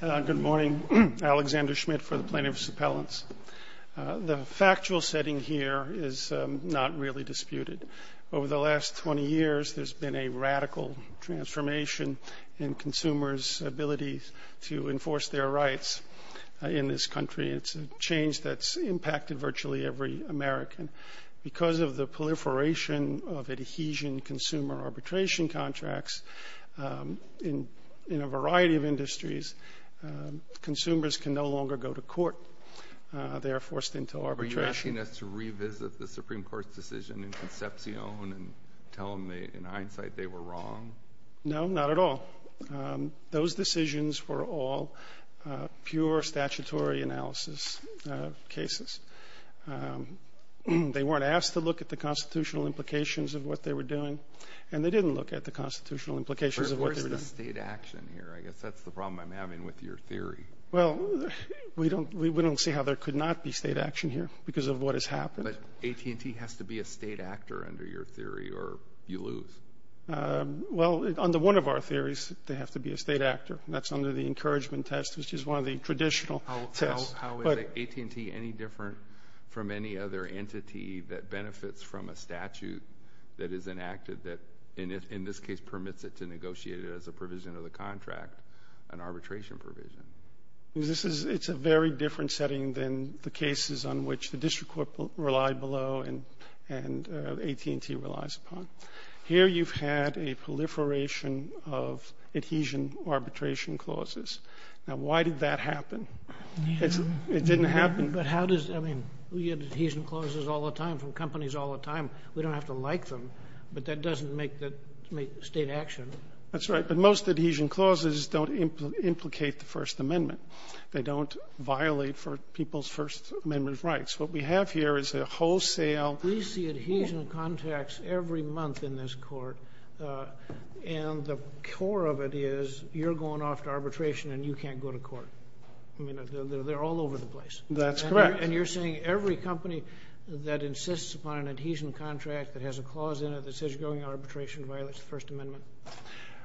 Good morning. Alexander Schmidt for the Plaintiffs' Appellants. The factual setting here is not really disputed. Over the last 20 years, there's been a radical transformation in consumers' ability to enforce their rights in this country. It's a change that's impacted virtually every American. Because of the proliferation of adhesion consumer arbitration contracts, in a variety of industries, consumers can no longer go to court. They are forced into arbitration. Are you asking us to revisit the Supreme Court's decision in Concepcion and tell them in hindsight they were wrong? No, not at all. Those decisions were all pure statutory analysis cases. They weren't asked to look at the constitutional implications of what they were doing, and they didn't look at the constitutional implications of what they were doing. But where's the state action here? I guess that's the problem I'm having with your theory. Well, we don't see how there could not be state action here because of what has happened. But AT&T has to be a state actor under your theory, or you lose. Well, under one of our theories, they have to be a state actor. That's under the encouragement test, which is one of the traditional tests. How is AT&T any different from any other entity that benefits from a statute that is enacted that in this case permits it to negotiate it as a provision of the contract, an arbitration provision? It's a very different setting than the cases on which the district court relied below and AT&T relies upon. Here you've had a proliferation of adhesion arbitration clauses. Now, why did that happen? It didn't happen. But how does, I mean, we get adhesion clauses all the time from companies all the time. We don't have to like them, but that doesn't make state action. That's right, but most adhesion clauses don't implicate the First Amendment. They don't violate people's First Amendment rights. What we have here is a wholesale. We see adhesion contracts every month in this court, and the core of it is you're going off to arbitration and you can't go to court. I mean, they're all over the place. That's correct. And you're saying every company that insists upon an adhesion contract that has a clause in it that says you're going to arbitration violates the First Amendment?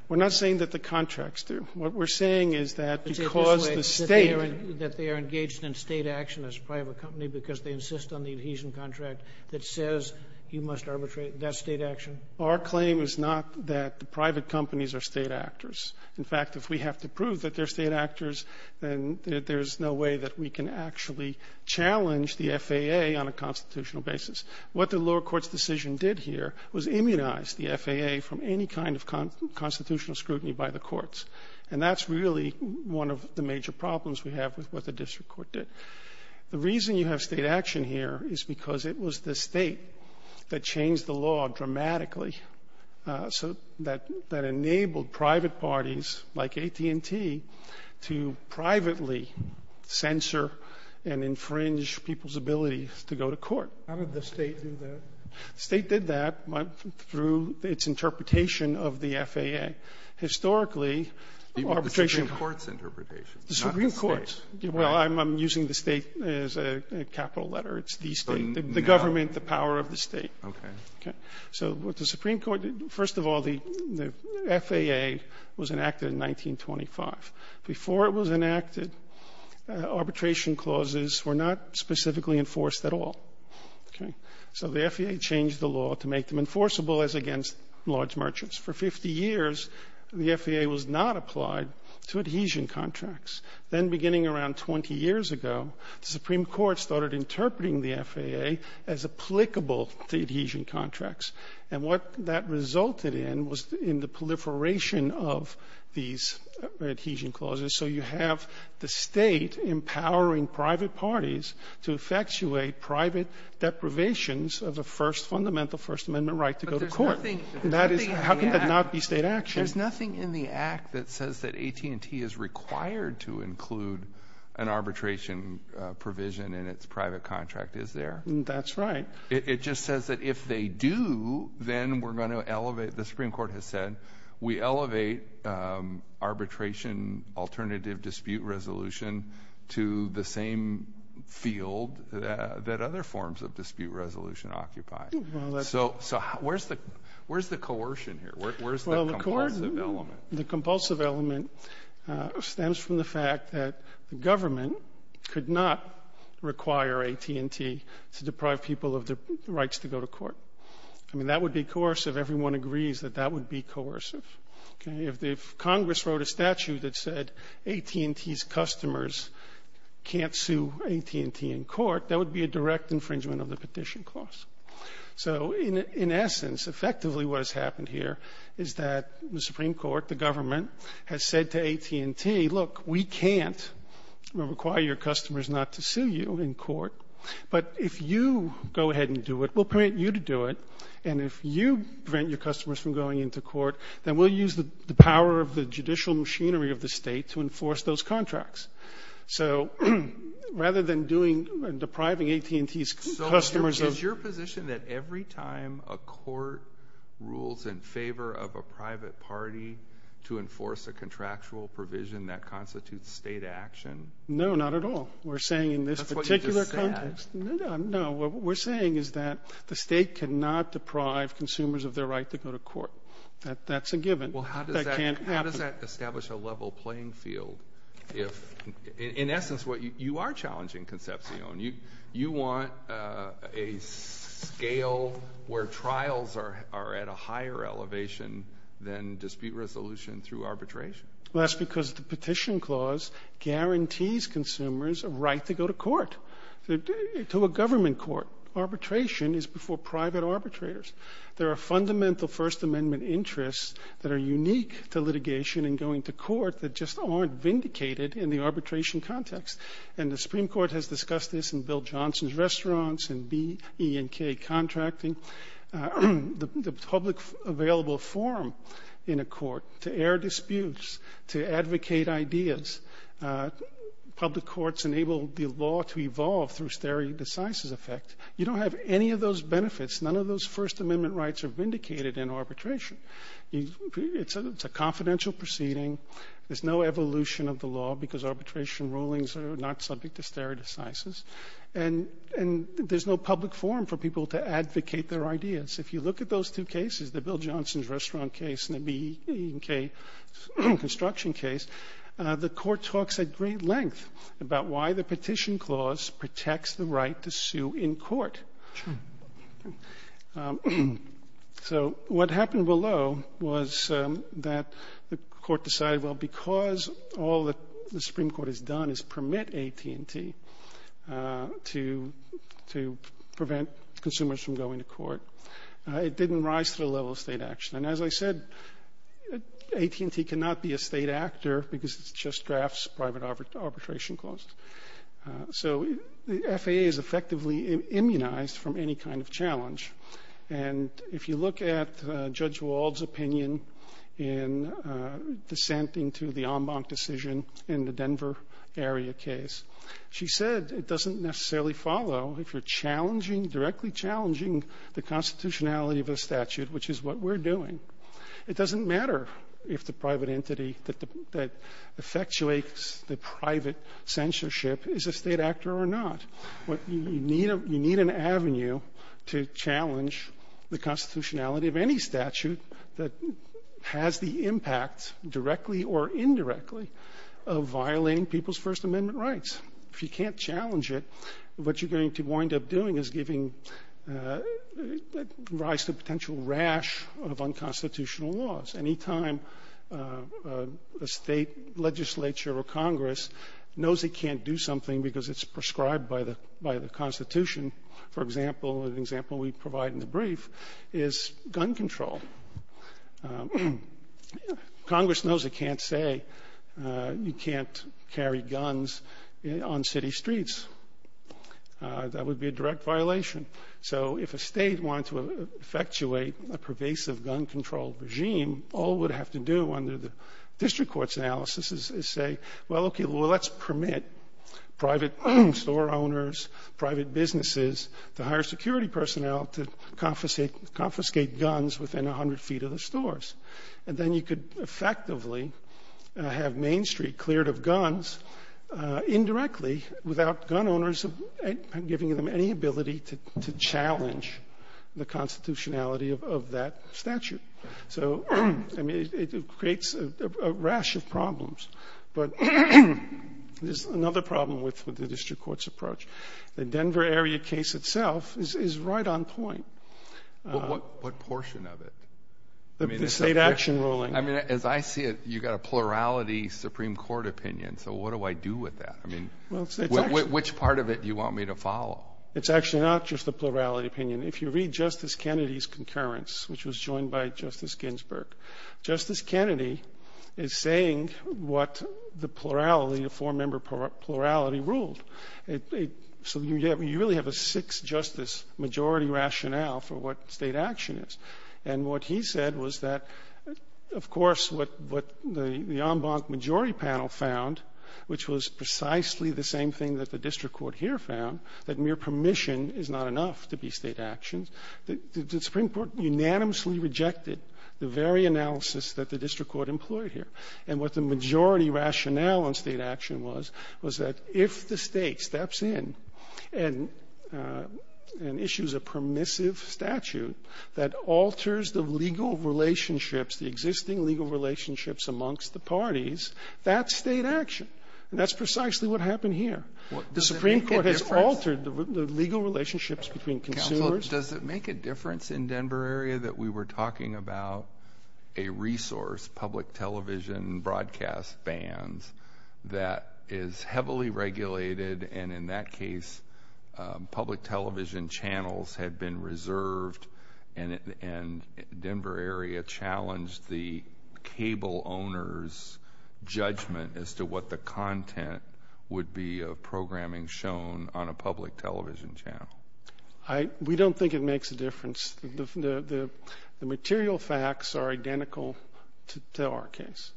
We're not saying that the contracts do. What we're saying is that because the state That they are engaged in state action as a private company because they insist on the adhesion contract that says you must arbitrate, that's state action? Our claim is not that the private companies are state actors. In fact, if we have to prove that they're state actors, then there's no way that we can actually challenge the FAA on a constitutional basis. What the lower court's decision did here was immunize the FAA from any kind of constitutional scrutiny by the courts, and that's really one of the major problems we have with what the district court did. The reason you have state action here is because it was the state that changed the law dramatically that enabled private parties like AT&T to privately censor and infringe people's ability to go to court. How did the state do that? The state did that through its interpretation of the FAA. Historically, arbitration The Supreme Court's interpretation, not the state. Well, I'm using the state as a capital letter. It's the state, the government, the power of the state. Okay. So what the Supreme Court did, first of all, the FAA was enacted in 1925. Before it was enacted, arbitration clauses were not specifically enforced at all. Okay. So the FAA changed the law to make them enforceable as against large merchants. For 50 years, the FAA was not applied to adhesion contracts. Then beginning around 20 years ago, the Supreme Court started interpreting the FAA as applicable to adhesion contracts. And what that resulted in was in the proliferation of these adhesion clauses. So you have the state empowering private parties to effectuate private deprivations of the first fundamental First Amendment right to go to court. But there's nothing in the act. How can that not be state action? There's nothing in the act that says that AT&T is required to include an arbitration provision in its private contract, is there? That's right. It just says that if they do, then we're going to elevate, the Supreme Court has said, we elevate arbitration alternative dispute resolution to the same field that other forms of dispute resolution occupy. So where's the coercion here? Where's the compulsive element? The compulsive element stems from the fact that the government could not require AT&T to deprive people of the rights to go to court. I mean, that would be coercive. Everyone agrees that that would be coercive. If Congress wrote a statute that said AT&T's customers can't sue AT&T in court, that would be a direct infringement of the petition clause. So in essence, effectively what has happened here is that the Supreme Court, the government, has said to AT&T, look, we can't require your customers not to sue you in court. But if you go ahead and do it, we'll permit you to do it. And if you prevent your customers from going into court, then we'll use the power of the judicial machinery of the State to enforce those contracts. So rather than doing and depriving AT&T's customers of the rights to go to court, is it your position that every time a court rules in favor of a private party to enforce a contractual provision, that constitutes State action? No, not at all. We're saying in this particular context. That's what you just said. No, what we're saying is that the State cannot deprive consumers of their right to go to court. That's a given. Well, how does that establish a level playing field if, in essence, you are challenging Concepcion. You want a scale where trials are at a higher elevation than dispute resolution through arbitration. Well, that's because the Petition Clause guarantees consumers a right to go to court, to a government court. Arbitration is before private arbitrators. There are fundamental First Amendment interests that are unique to litigation and going to court that just aren't vindicated in the arbitration context. And the Supreme Court has discussed this in Bill Johnson's restaurants and B, E, and K contracting. The public available forum in a court to air disputes, to advocate ideas, public courts enable the law to evolve through stare decisis effect. You don't have any of those benefits. None of those First Amendment rights are vindicated in arbitration. It's a confidential proceeding. There's no evolution of the law because arbitration rulings are not subject to stare decisis. And there's no public forum for people to advocate their ideas. If you look at those two cases, the Bill Johnson's restaurant case and the B, E, and K construction case, the court talks at great length about why the Supreme Court has done is permit AT&T to prevent consumers from going to court. It didn't rise to the level of state action. And as I said, AT&T cannot be a state actor because it's just drafts, private arbitration costs. So the FAA is effectively immunized from any kind of challenge. And if you look at Judge Wald's opinion in dissenting to the en banc decision in the Denver area case, she said it doesn't necessarily follow if you're challenging, directly challenging the constitutionality of a statute, which is what we're doing. It doesn't matter if the private entity that effectuates the private censorship is a state actor or not. You need an avenue to challenge the constitutionality of any statute that has the impact, directly or indirectly, of violating people's First Amendment rights. If you can't challenge it, what you're going to wind up doing is giving rise to a violation of constitutional laws. Anytime a state legislature or Congress knows it can't do something because it's prescribed by the Constitution, for example, an example we provide in the brief, is gun control. Congress knows it can't say you can't carry guns on city streets. That would be a direct violation. So if a state wanted to effectuate a pervasive gun control regime, all it would have to do under the district court's analysis is say, well, okay, let's permit private store owners, private businesses to hire security personnel to confiscate guns within 100 feet of the stores. And then you could effectively have Main Street cleared of guns indirectly without gun owners giving them any ability to challenge the constitutionality of that statute. So, I mean, it creates a rash of problems. But there's another problem with the district court's approach. The Denver area case itself is right on point. What portion of it? The state action ruling. I mean, as I see it, you've got a plurality Supreme Court opinion. So what do I do with that? I mean, which part of it do you want me to follow? It's actually not just the plurality opinion. If you read Justice Kennedy's concurrence, which was joined by Justice Ginsburg, Justice Kennedy is saying what the plurality, the four-member plurality ruled. So you really have a six-justice majority rationale for what state action is. And what he said was that, of course, what the en banc majority panel found, which was precisely the same thing that the district court here found, that mere permission is not enough to be state action, the Supreme Court unanimously rejected the very analysis that the district court employed here. And what the majority rationale on state action was, was that if the state steps in and issues a permissive statute that alters the legal relationships, the existing legal relationships amongst the parties, that's state action. And that's precisely what happened here. The Supreme Court has altered the legal relationships between consumers. Counsel, does it make a difference in the Denver area that we were talking about a resource, public television broadcast bands, that is heavily regulated, and in that case public television channels had been reserved and Denver area challenged the cable owner's judgment as to what the content would be of programming shown on a public television channel? We don't think it makes a difference. The material facts are identical to our case.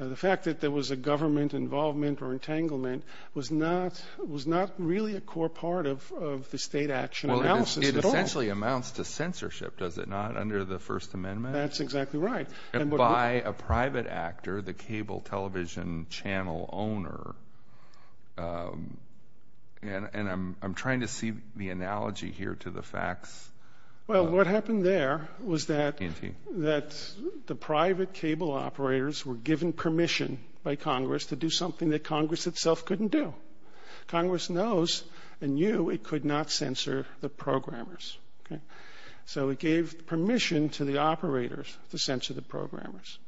The fact that there was a government involvement or entanglement was not really a core part of the state action analysis at all. It essentially amounts to censorship, does it not, under the First Amendment? That's exactly right. And by a private actor, the cable television channel owner, and I'm trying to see the analogy here to the facts. Well, what happened there was that the private cable operators were given permission by Congress to do something that Congress itself couldn't do. Congress knows and knew it could not censor the programmers. So it gave permission to the operators to censor the programmers.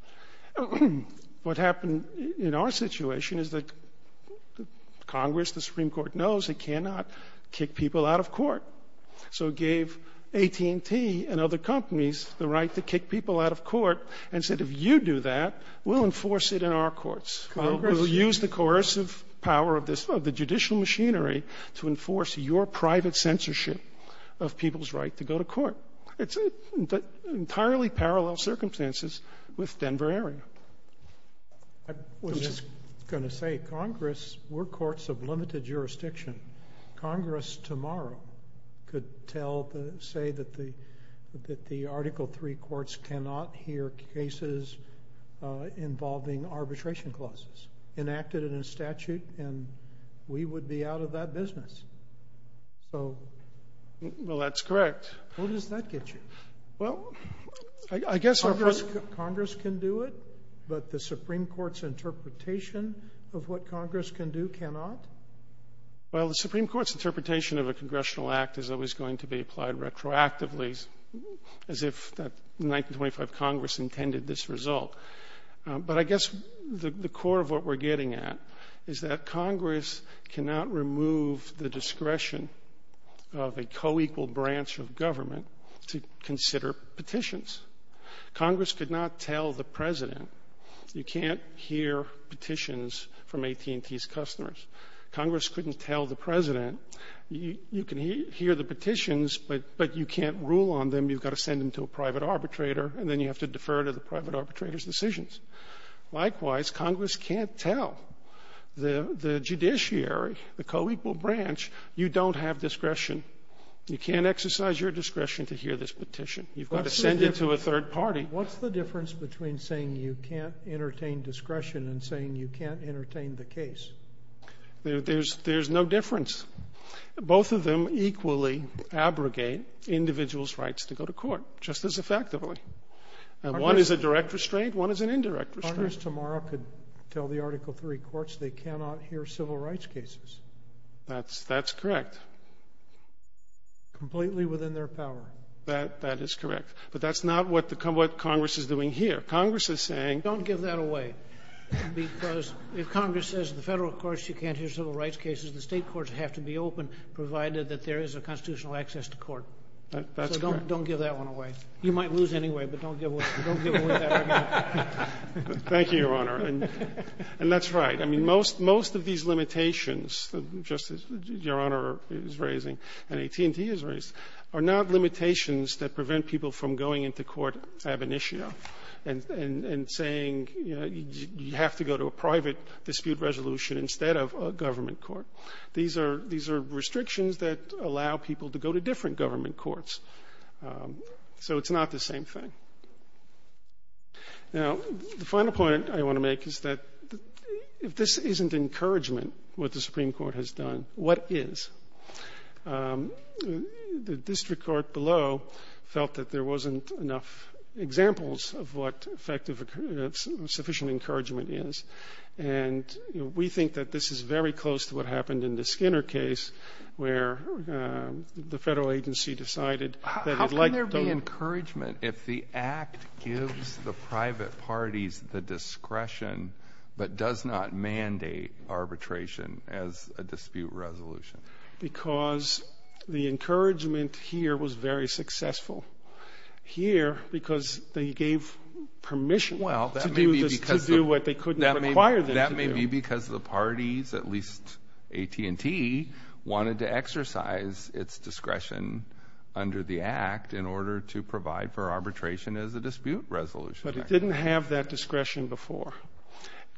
What happened in our situation is that Congress, the Supreme Court, knows it cannot kick people out of court. So it gave AT&T and other companies the right to kick people out of court and said, if you do that, we'll enforce it in our courts. We'll use the coercive power of the judicial machinery to enforce your private censorship of people's right to go to court. It's entirely parallel circumstances with Denver area. I was just going to say, Congress, we're courts of limited jurisdiction. Congress tomorrow could say that the Article III courts cannot hear cases involving arbitration clauses enacted in a statute, and we would be out of that business. Well, that's correct. Where does that get you? Congress can do it, but the Supreme Court's interpretation of what Congress can do cannot? Well, the Supreme Court's interpretation of a congressional act is always going to be applied retroactively as if the 1925 Congress intended this result. But I guess the core of what we're getting at is that Congress cannot remove the discretion of a co-equal branch of government to consider petitions. Congress could not tell the President you can't hear petitions from AT&T's customers. Congress couldn't tell the President you can hear the petitions, but you can't rule on them. You've got to send them to a private arbitrator, and then you have to defer to the private arbitrator's decisions. Likewise, Congress can't tell the judiciary, the co-equal branch, you don't have discretion. You can't exercise your discretion to hear this petition. You've got to send it to a third party. What's the difference between saying you can't entertain discretion and saying you can't entertain the case? There's no difference. Both of them equally abrogate individuals' rights to go to court just as effectively. And one is a direct restraint. One is an indirect restraint. Sotomayor's tomorrow could tell the Article III courts they cannot hear civil rights cases. That's correct. Completely within their power. That is correct. But that's not what Congress is doing here. Congress is saying don't give that away, because if Congress says in the Federal Court that you cannot hear civil rights cases, the State courts have to be open, provided that there is a constitutional access to court. That's correct. So don't give that one away. You might lose anyway, but don't give away that argument. Thank you, Your Honor. And that's right. I mean, most of these limitations, Justice, Your Honor is raising, and AT&T is raising, are not limitations that prevent people from going into court ab initio and saying you have to go to a private dispute resolution instead of a government court. These are restrictions that allow people to go to different government courts. So it's not the same thing. Now, the final point I want to make is that if this isn't encouragement, what the Supreme Court has done, what is? The district court below felt that there wasn't enough examples of what effective or sufficient encouragement is. And we think that this is very close to what happened in the Skinner case, where the Federal agency decided that it would like to go to the court. How can there be encouragement if the Act gives the private parties the discretion but does not mandate arbitration as a dispute resolution? Because the encouragement here was very successful. Here, because they gave permission to do what they couldn't require them to do. That may be because the parties, at least AT&T, wanted to exercise its discretion under the Act in order to provide for arbitration as a dispute resolution. But it didn't have that discretion before.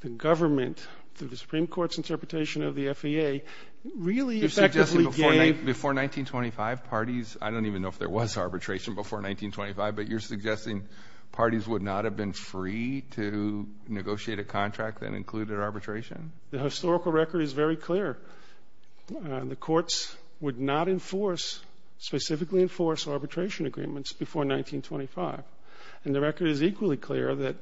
The government, through the Supreme Court's interpretation of the FAA, really effectively gave You're suggesting before 1925, parties, I don't even know if there was arbitration before 1925, but you're suggesting parties would not have been free to negotiate a contract that included arbitration? The historical record is very clear. The courts would not enforce, specifically enforce, arbitration agreements before 1925. And the record is equally clear that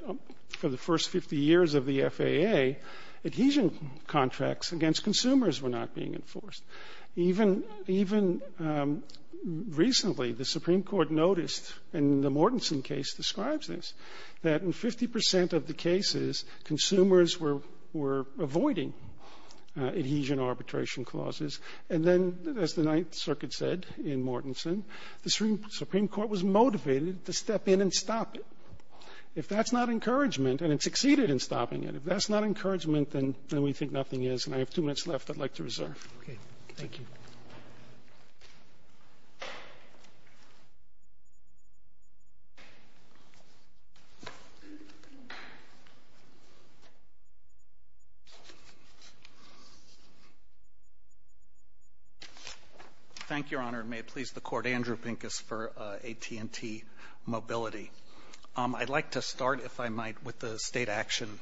for the first 50 years of the FAA, adhesion contracts against consumers were not being enforced. Even recently, the Supreme Court noticed, and the Mortenson case describes this, that in 50 percent of the cases, consumers were avoiding adhesion arbitration clauses. And then, as the Ninth Circuit said in Mortenson, the Supreme Court was motivated to step in and stop it. If that's not encouragement, and it succeeded in stopping it, if that's not encouragement, then we think nothing is. And I have two minutes left I'd like to reserve. Thank you. Thank you, Your Honor. May it please the Court. Andrew Pincus for AT&T Mobility. I'd like to start, if I might, with the State Action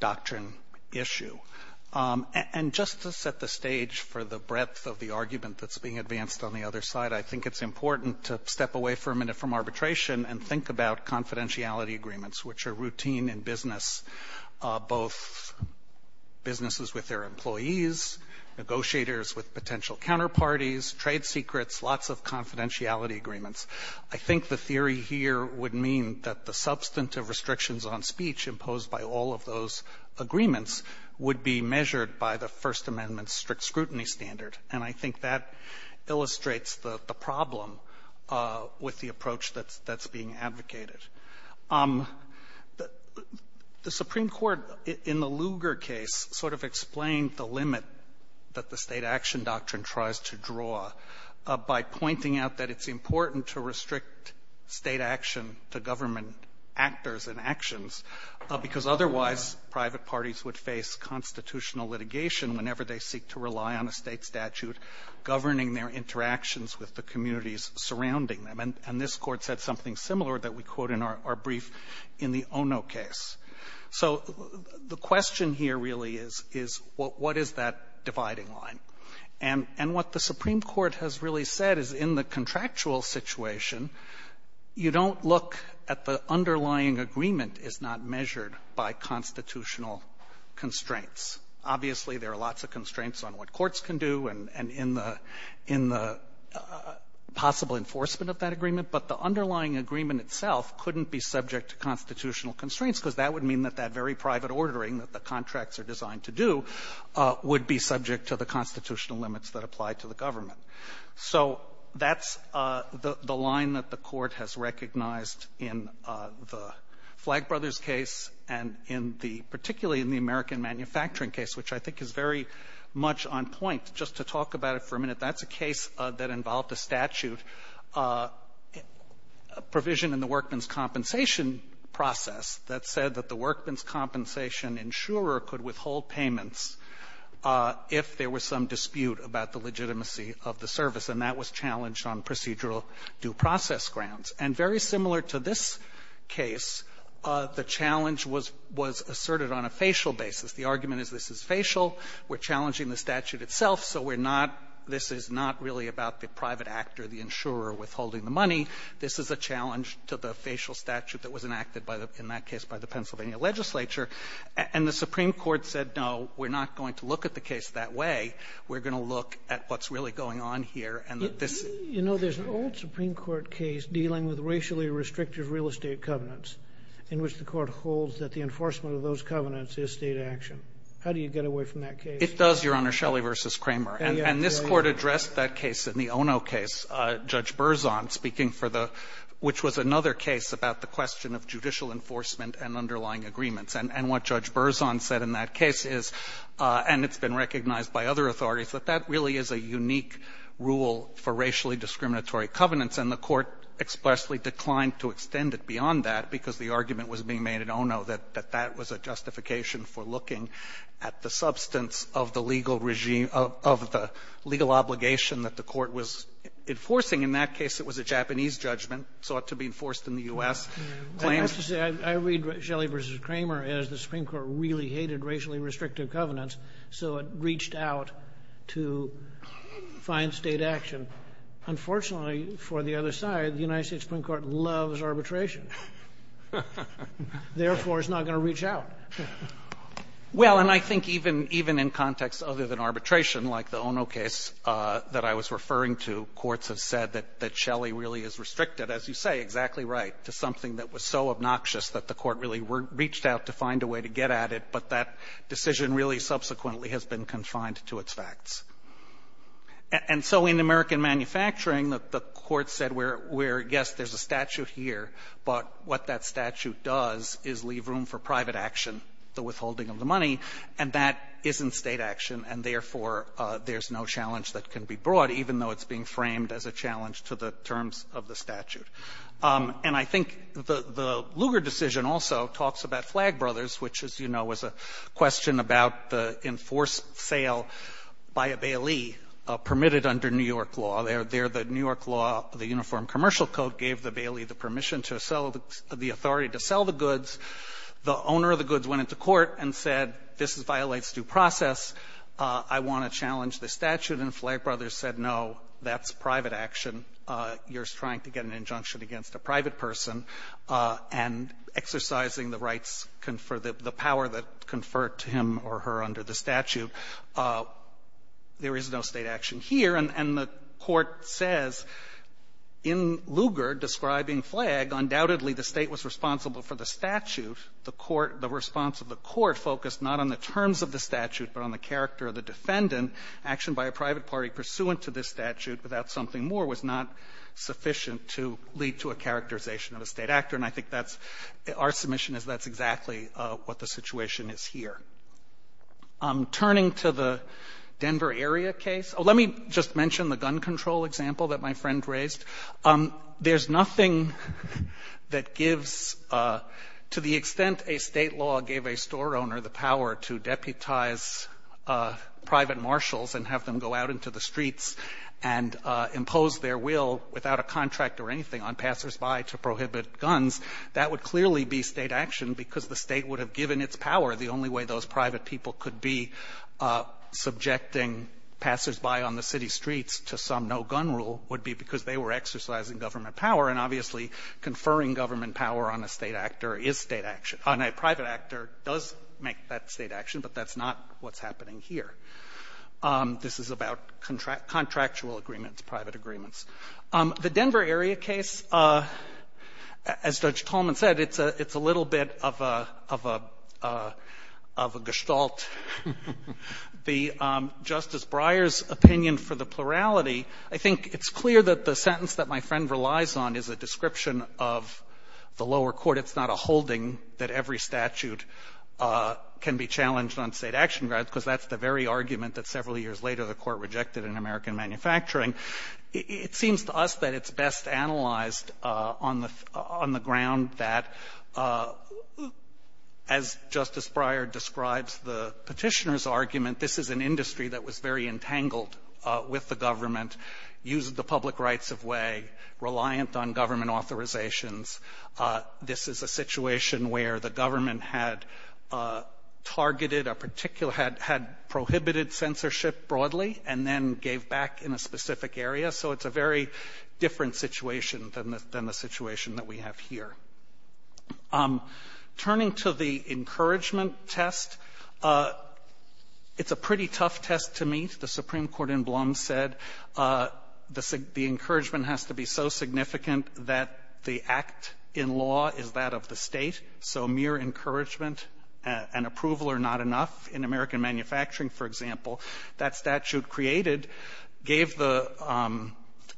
Doctrine issue. And just to set the stage for the breadth of the argument that's being advanced on the other side, I think it's important to step away for a minute from arbitration and think about confidentiality agreements, which are routine in business, both businesses with their employees, negotiators with potential counterparties, trade secrets, lots of confidentiality agreements. I think the theory here would mean that the substantive restrictions on speech imposed by all of those agreements would be measured by the First Amendment's strict scrutiny standard. And I think that illustrates the problem with the approach that's being advocated. The Supreme Court, in the Lugar case, sort of explained the limit that the State Action Doctrine tries to draw by pointing out that it's otherwise private parties would face constitutional litigation whenever they seek to rely on a State statute governing their interactions with the communities surrounding them. And this Court said something similar that we quote in our brief in the Ono case. So the question here really is, is what is that dividing line? And what the Supreme Court has really said is in the contractual situation, you don't look at the underlying agreement is not measured by constitutional constraints. Obviously, there are lots of constraints on what courts can do and in the possible enforcement of that agreement, but the underlying agreement itself couldn't be subject to constitutional constraints because that would mean that that very private ordering that the contracts are designed to do would be subject to the constitutional constraints. Now, there is a case that's been recognized in the Flagg brothers case and in the particularly in the American manufacturing case, which I think is very much on point. Just to talk about it for a minute, that's a case that involved a statute provision in the workman's compensation process that said that the workman's compensation insurer could withhold payments if there was some dispute about the legitimacy of the service. And that was challenged on procedural due process grounds. And very similar to this case, the challenge was asserted on a facial basis. The argument is this is facial. We're challenging the statute itself, so we're not this is not really about the private actor, the insurer withholding the money. This is a challenge to the facial statute that was enacted by the, in that case, by the Pennsylvania legislature. And the Supreme Court said, no, we're not going to look at the case that way. We're going to look at what's really going on here, and that this ---- You know, there's an old Supreme Court case dealing with racially restrictive real estate covenants in which the Court holds that the enforcement of those covenants is State action. How do you get away from that case? It does, Your Honor, Shelley v. Kramer. And this Court addressed that case in the Ono case, Judge Berzon speaking for the ---- which was another case about the question of judicial enforcement and underlying agreements. And what Judge Berzon said in that case is, and it's been recognized by other authorities, that that really is a unique rule for racially discriminatory covenants. And the Court expressly declined to extend it beyond that because the argument was being made at Ono that that was a justification for looking at the substance of the legal regime, of the legal obligation that the Court was enforcing. In that case, it was a Japanese judgment, sought to be enforced in the U.S. I have to say, I read Shelley v. Kramer as the Supreme Court really hated racially restrictive covenants, so it reached out to find State action. Unfortunately, for the other side, the United States Supreme Court loves arbitration. Therefore, it's not going to reach out. Well, and I think even in context other than arbitration, like the Ono case that I was referring to, courts have said that Shelley really is restricted, as you say, exactly right, to something that was so obnoxious that the Court really reached out to find a way to get at it, but that decision really subsequently has been confined to its facts. And so in American manufacturing, the Court said, yes, there's a statute here, but what that statute does is leave room for private action, the withholding of the money, and that isn't State action, and therefore, there's no challenge that can be brought, even though it's being framed as a challenge to the terms of the statute. And I think the Lugar decision also talks about Flag Brothers, which, as you know, was a question about the enforced sale by a Bailey permitted under New York law. There the New York law, the Uniform Commercial Code, gave the Bailey the permission to sell the authority to sell the goods. The owner of the goods went into court and said, this violates due process. I want to challenge the statute, and Flag Brothers said, no, that's private action. You're trying to get an injunction against a private person, and exercising the rights for the power that conferred to him or her under the statute, there is no State action here. And the Court says, in Lugar, describing Flag, undoubtedly, the State was responsible for the statute. The court the response of the court focused not on the terms of the statute, but on the character of the defendant. Action by a private party pursuant to this statute without something more was not sufficient to lead to a characterization of a State actor. And I think that's our submission is that's exactly what the situation is here. Turning to the Denver area case, let me just mention the gun control example that my friend raised. There's nothing that gives, to the extent a State law gave a store owner the power to deputize private marshals and have them go out into the That would clearly be State action, because the State would have given its power. The only way those private people could be subjecting passersby on the city streets to some no-gun rule would be because they were exercising government power. And obviously, conferring government power on a State actor is State action, on a private actor does make that State action, but that's not what's happening here. This is about contractual agreements, private agreements. The Denver area case, as Judge Tolman said, it's a little bit of a gestalt. The Justice Breyer's opinion for the plurality, I think it's clear that the sentence that my friend relies on is a description of the lower court. It's not a holding that every statute can be challenged on State action grounds, because that's the very argument that several years later the Court rejected in American manufacturing. It seems to us that it's best analyzed on the ground that, as Justice Breyer describes the Petitioner's argument, this is an industry that was very entangled with the government, used the public rights of way, reliant on government authorizations. This is a situation where the government had targeted a particular, had prohibited censorship broadly, and then gave back in a specific area. So it's a very different situation than the situation that we have here. Turning to the encouragement test, it's a pretty tough test to meet. The Supreme Court in Blum said the encouragement has to be so significant that the actor in law is that of the State, so mere encouragement and approval are not enough. In American manufacturing, for example, that statute created, gave the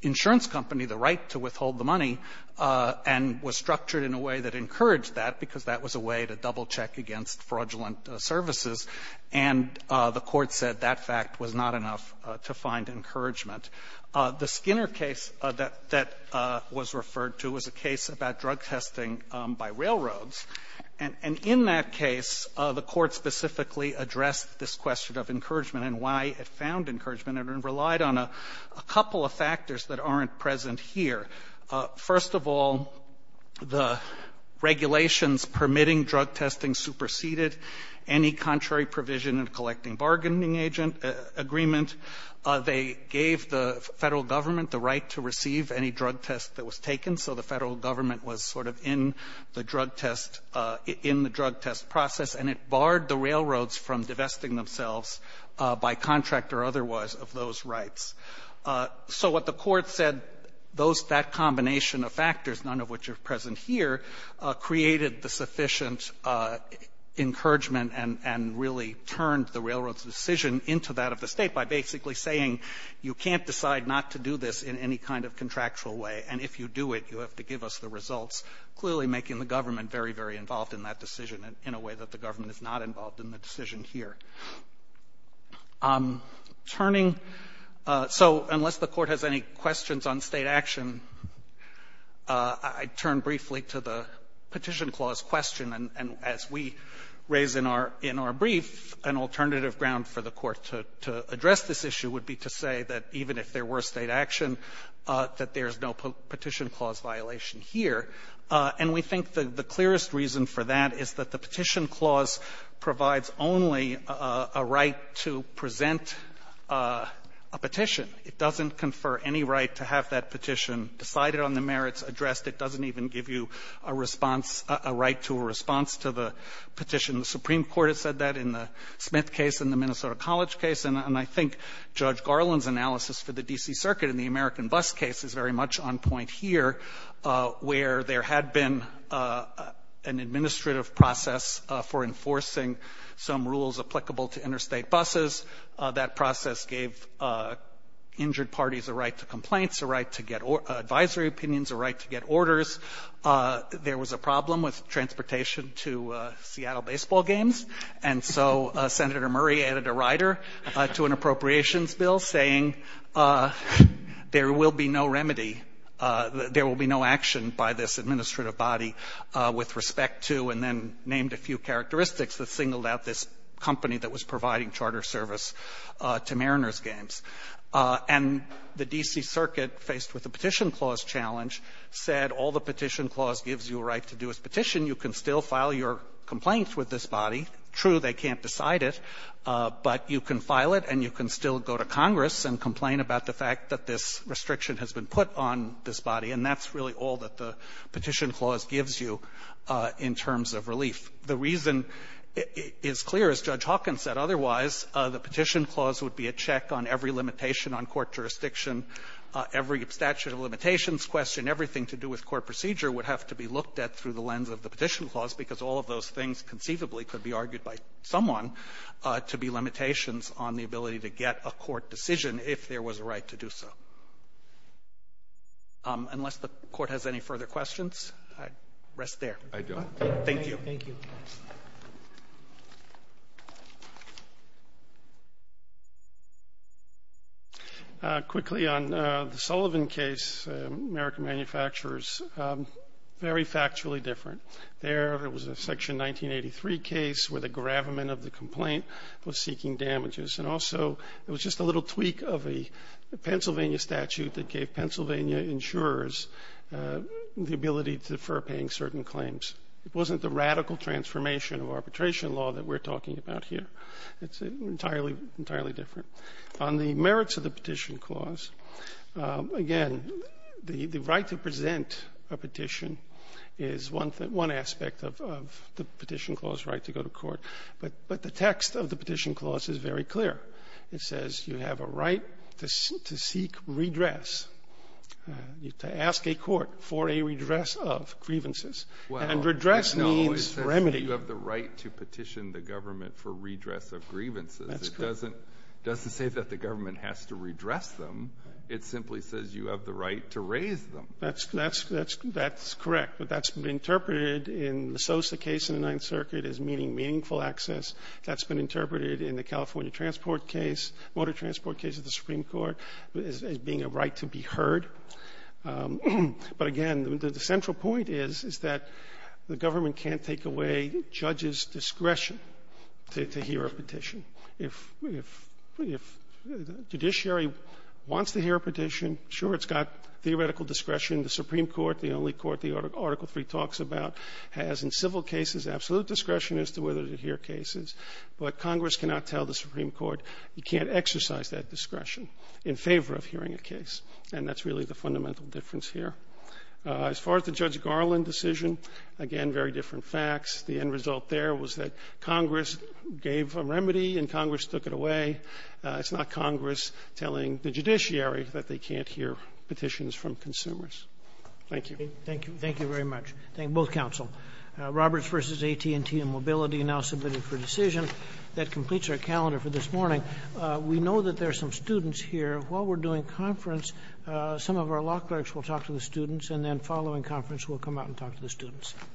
insurance company the right to withhold the money and was structured in a way that encouraged that, because that was a way to double-check against fraudulent services. And the Court said that fact was not enough to find encouragement. The Skinner case that was referred to was a case about drug testing by railroads. And in that case, the Court specifically addressed this question of encouragement and why it found encouragement and relied on a couple of factors that aren't present here. First of all, the regulations permitting drug testing superseded any contrary provision in collecting bargaining agent agreement. They gave the Federal Government the right to receive any drug test that was taken, so the Federal Government was sort of in the drug test process, and it barred the railroads from divesting themselves by contract or otherwise of those rights. So what the Court said, those that combination of factors, none of which are present here, created the sufficient encouragement and really turned the railroad's decision into that of the State by basically saying you can't decide not to do this in any kind of contractual way, and if you do it, you have to give us the results, clearly making the government very, very involved in that decision in a way that the government is not involved in the decision here. Turning so unless the Court has any questions on State action, I turn briefly to the Petition Clause question. And as we raise in our brief, an alternative ground for the Court to address this issue would be to say that even if there were State action, that there's no Petition Clause violation here, and we think the clearest reason for that is that the Petition Clause provides only a right to present a petition. It doesn't confer any right to have that petition decided on the merits addressed. It doesn't even give you a response, a right to a response to the petition. The Supreme Court has said that in the Smith case, in the Minnesota College case, and I think Judge Garland's analysis for the D.C. Circuit in the American Bus case is very much on point here, where there had been an administrative process for enforcing some rules applicable to interstate buses. That process gave injured parties a right to complaints, a right to get advisory opinions, a right to get orders. There was a problem with transportation to Seattle baseball games, and so Senator Murray added a rider to an appropriations bill, saying there will be no remedy, there will be no action by this administrative body with respect to, and then named a few characteristics that singled out this company that was providing charter service to Mariners games. And the D.C. Circuit, faced with the Petition Clause challenge, said all the Petition Clause gives you a right to do is petition. You can still file your complaint with this body. True, they can't decide it, but you can file it and you can still go to Congress and complain about the fact that this restriction has been put on this body, and that's really all that the Petition Clause gives you in terms of relief. The reason is clear, as Judge Hawkins said. Otherwise, the Petition Clause would be a check on every limitation on court jurisdiction. Every statute of limitations question, everything to do with court procedure would have to be looked at through the lens of the Petition Clause, because all of those things conceivably could be argued by someone to be limitations on the ability to get a court decision if there was a right to do so. Unless the Court has any further questions, I'd rest there. Roberts. I do. Thank you. Thank you. Quickly, on the Sullivan case, American Manufacturers, very factually different. There, it was a Section 1983 case where the gravamen of the complaint was seeking damages. And also, it was just a little tweak of a Pennsylvania statute that gave Pennsylvania insurers the ability to defer paying certain claims. It wasn't the radical transformation of arbitration law that we're talking about here. It's entirely different. On the merits of the Petition Clause, again, the right to present a petition is one aspect of the Petition Clause right to go to court. But the text of the Petition Clause is very clear. It says you have a right to seek redress, to ask a court for a redress of grievances. Well, no. And redress means remedy. It says you have the right to petition the government for redress of grievances. That's correct. It doesn't say that the government has to redress them. It simply says you have the right to raise them. That's correct. But that's been interpreted in the Sosa case in the Ninth Circuit as meaning meaningful access. That's been interpreted in the California transport case, motor transport case of the Supreme Court, as being a right to be heard. But again, the central point is, is that the government can't take away judges' discretion to hear a petition. If the judiciary wants to hear a petition, sure, it's got theoretical discretion. The Supreme Court, the only court the Article III talks about, has in civil cases absolute discretion as to whether to hear cases. But Congress cannot tell the Supreme Court you can't exercise that discretion in favor of hearing a case. And that's really the fundamental difference here. As far as the Judge Garland decision, again, very different facts. The end result there was that Congress gave a remedy and Congress took it away. It's not Congress telling the judiciary that they can't hear petitions from consumers. Thank you. Thank you. Thank you very much. Thank you, both counsel. Roberts v. AT&T and Mobility, now submitted for decision. That completes our calendar for this morning. We know that there are some students here. While we're doing conference, some of our law clerks will talk to the students, and then following conference, we'll come out and talk to the students.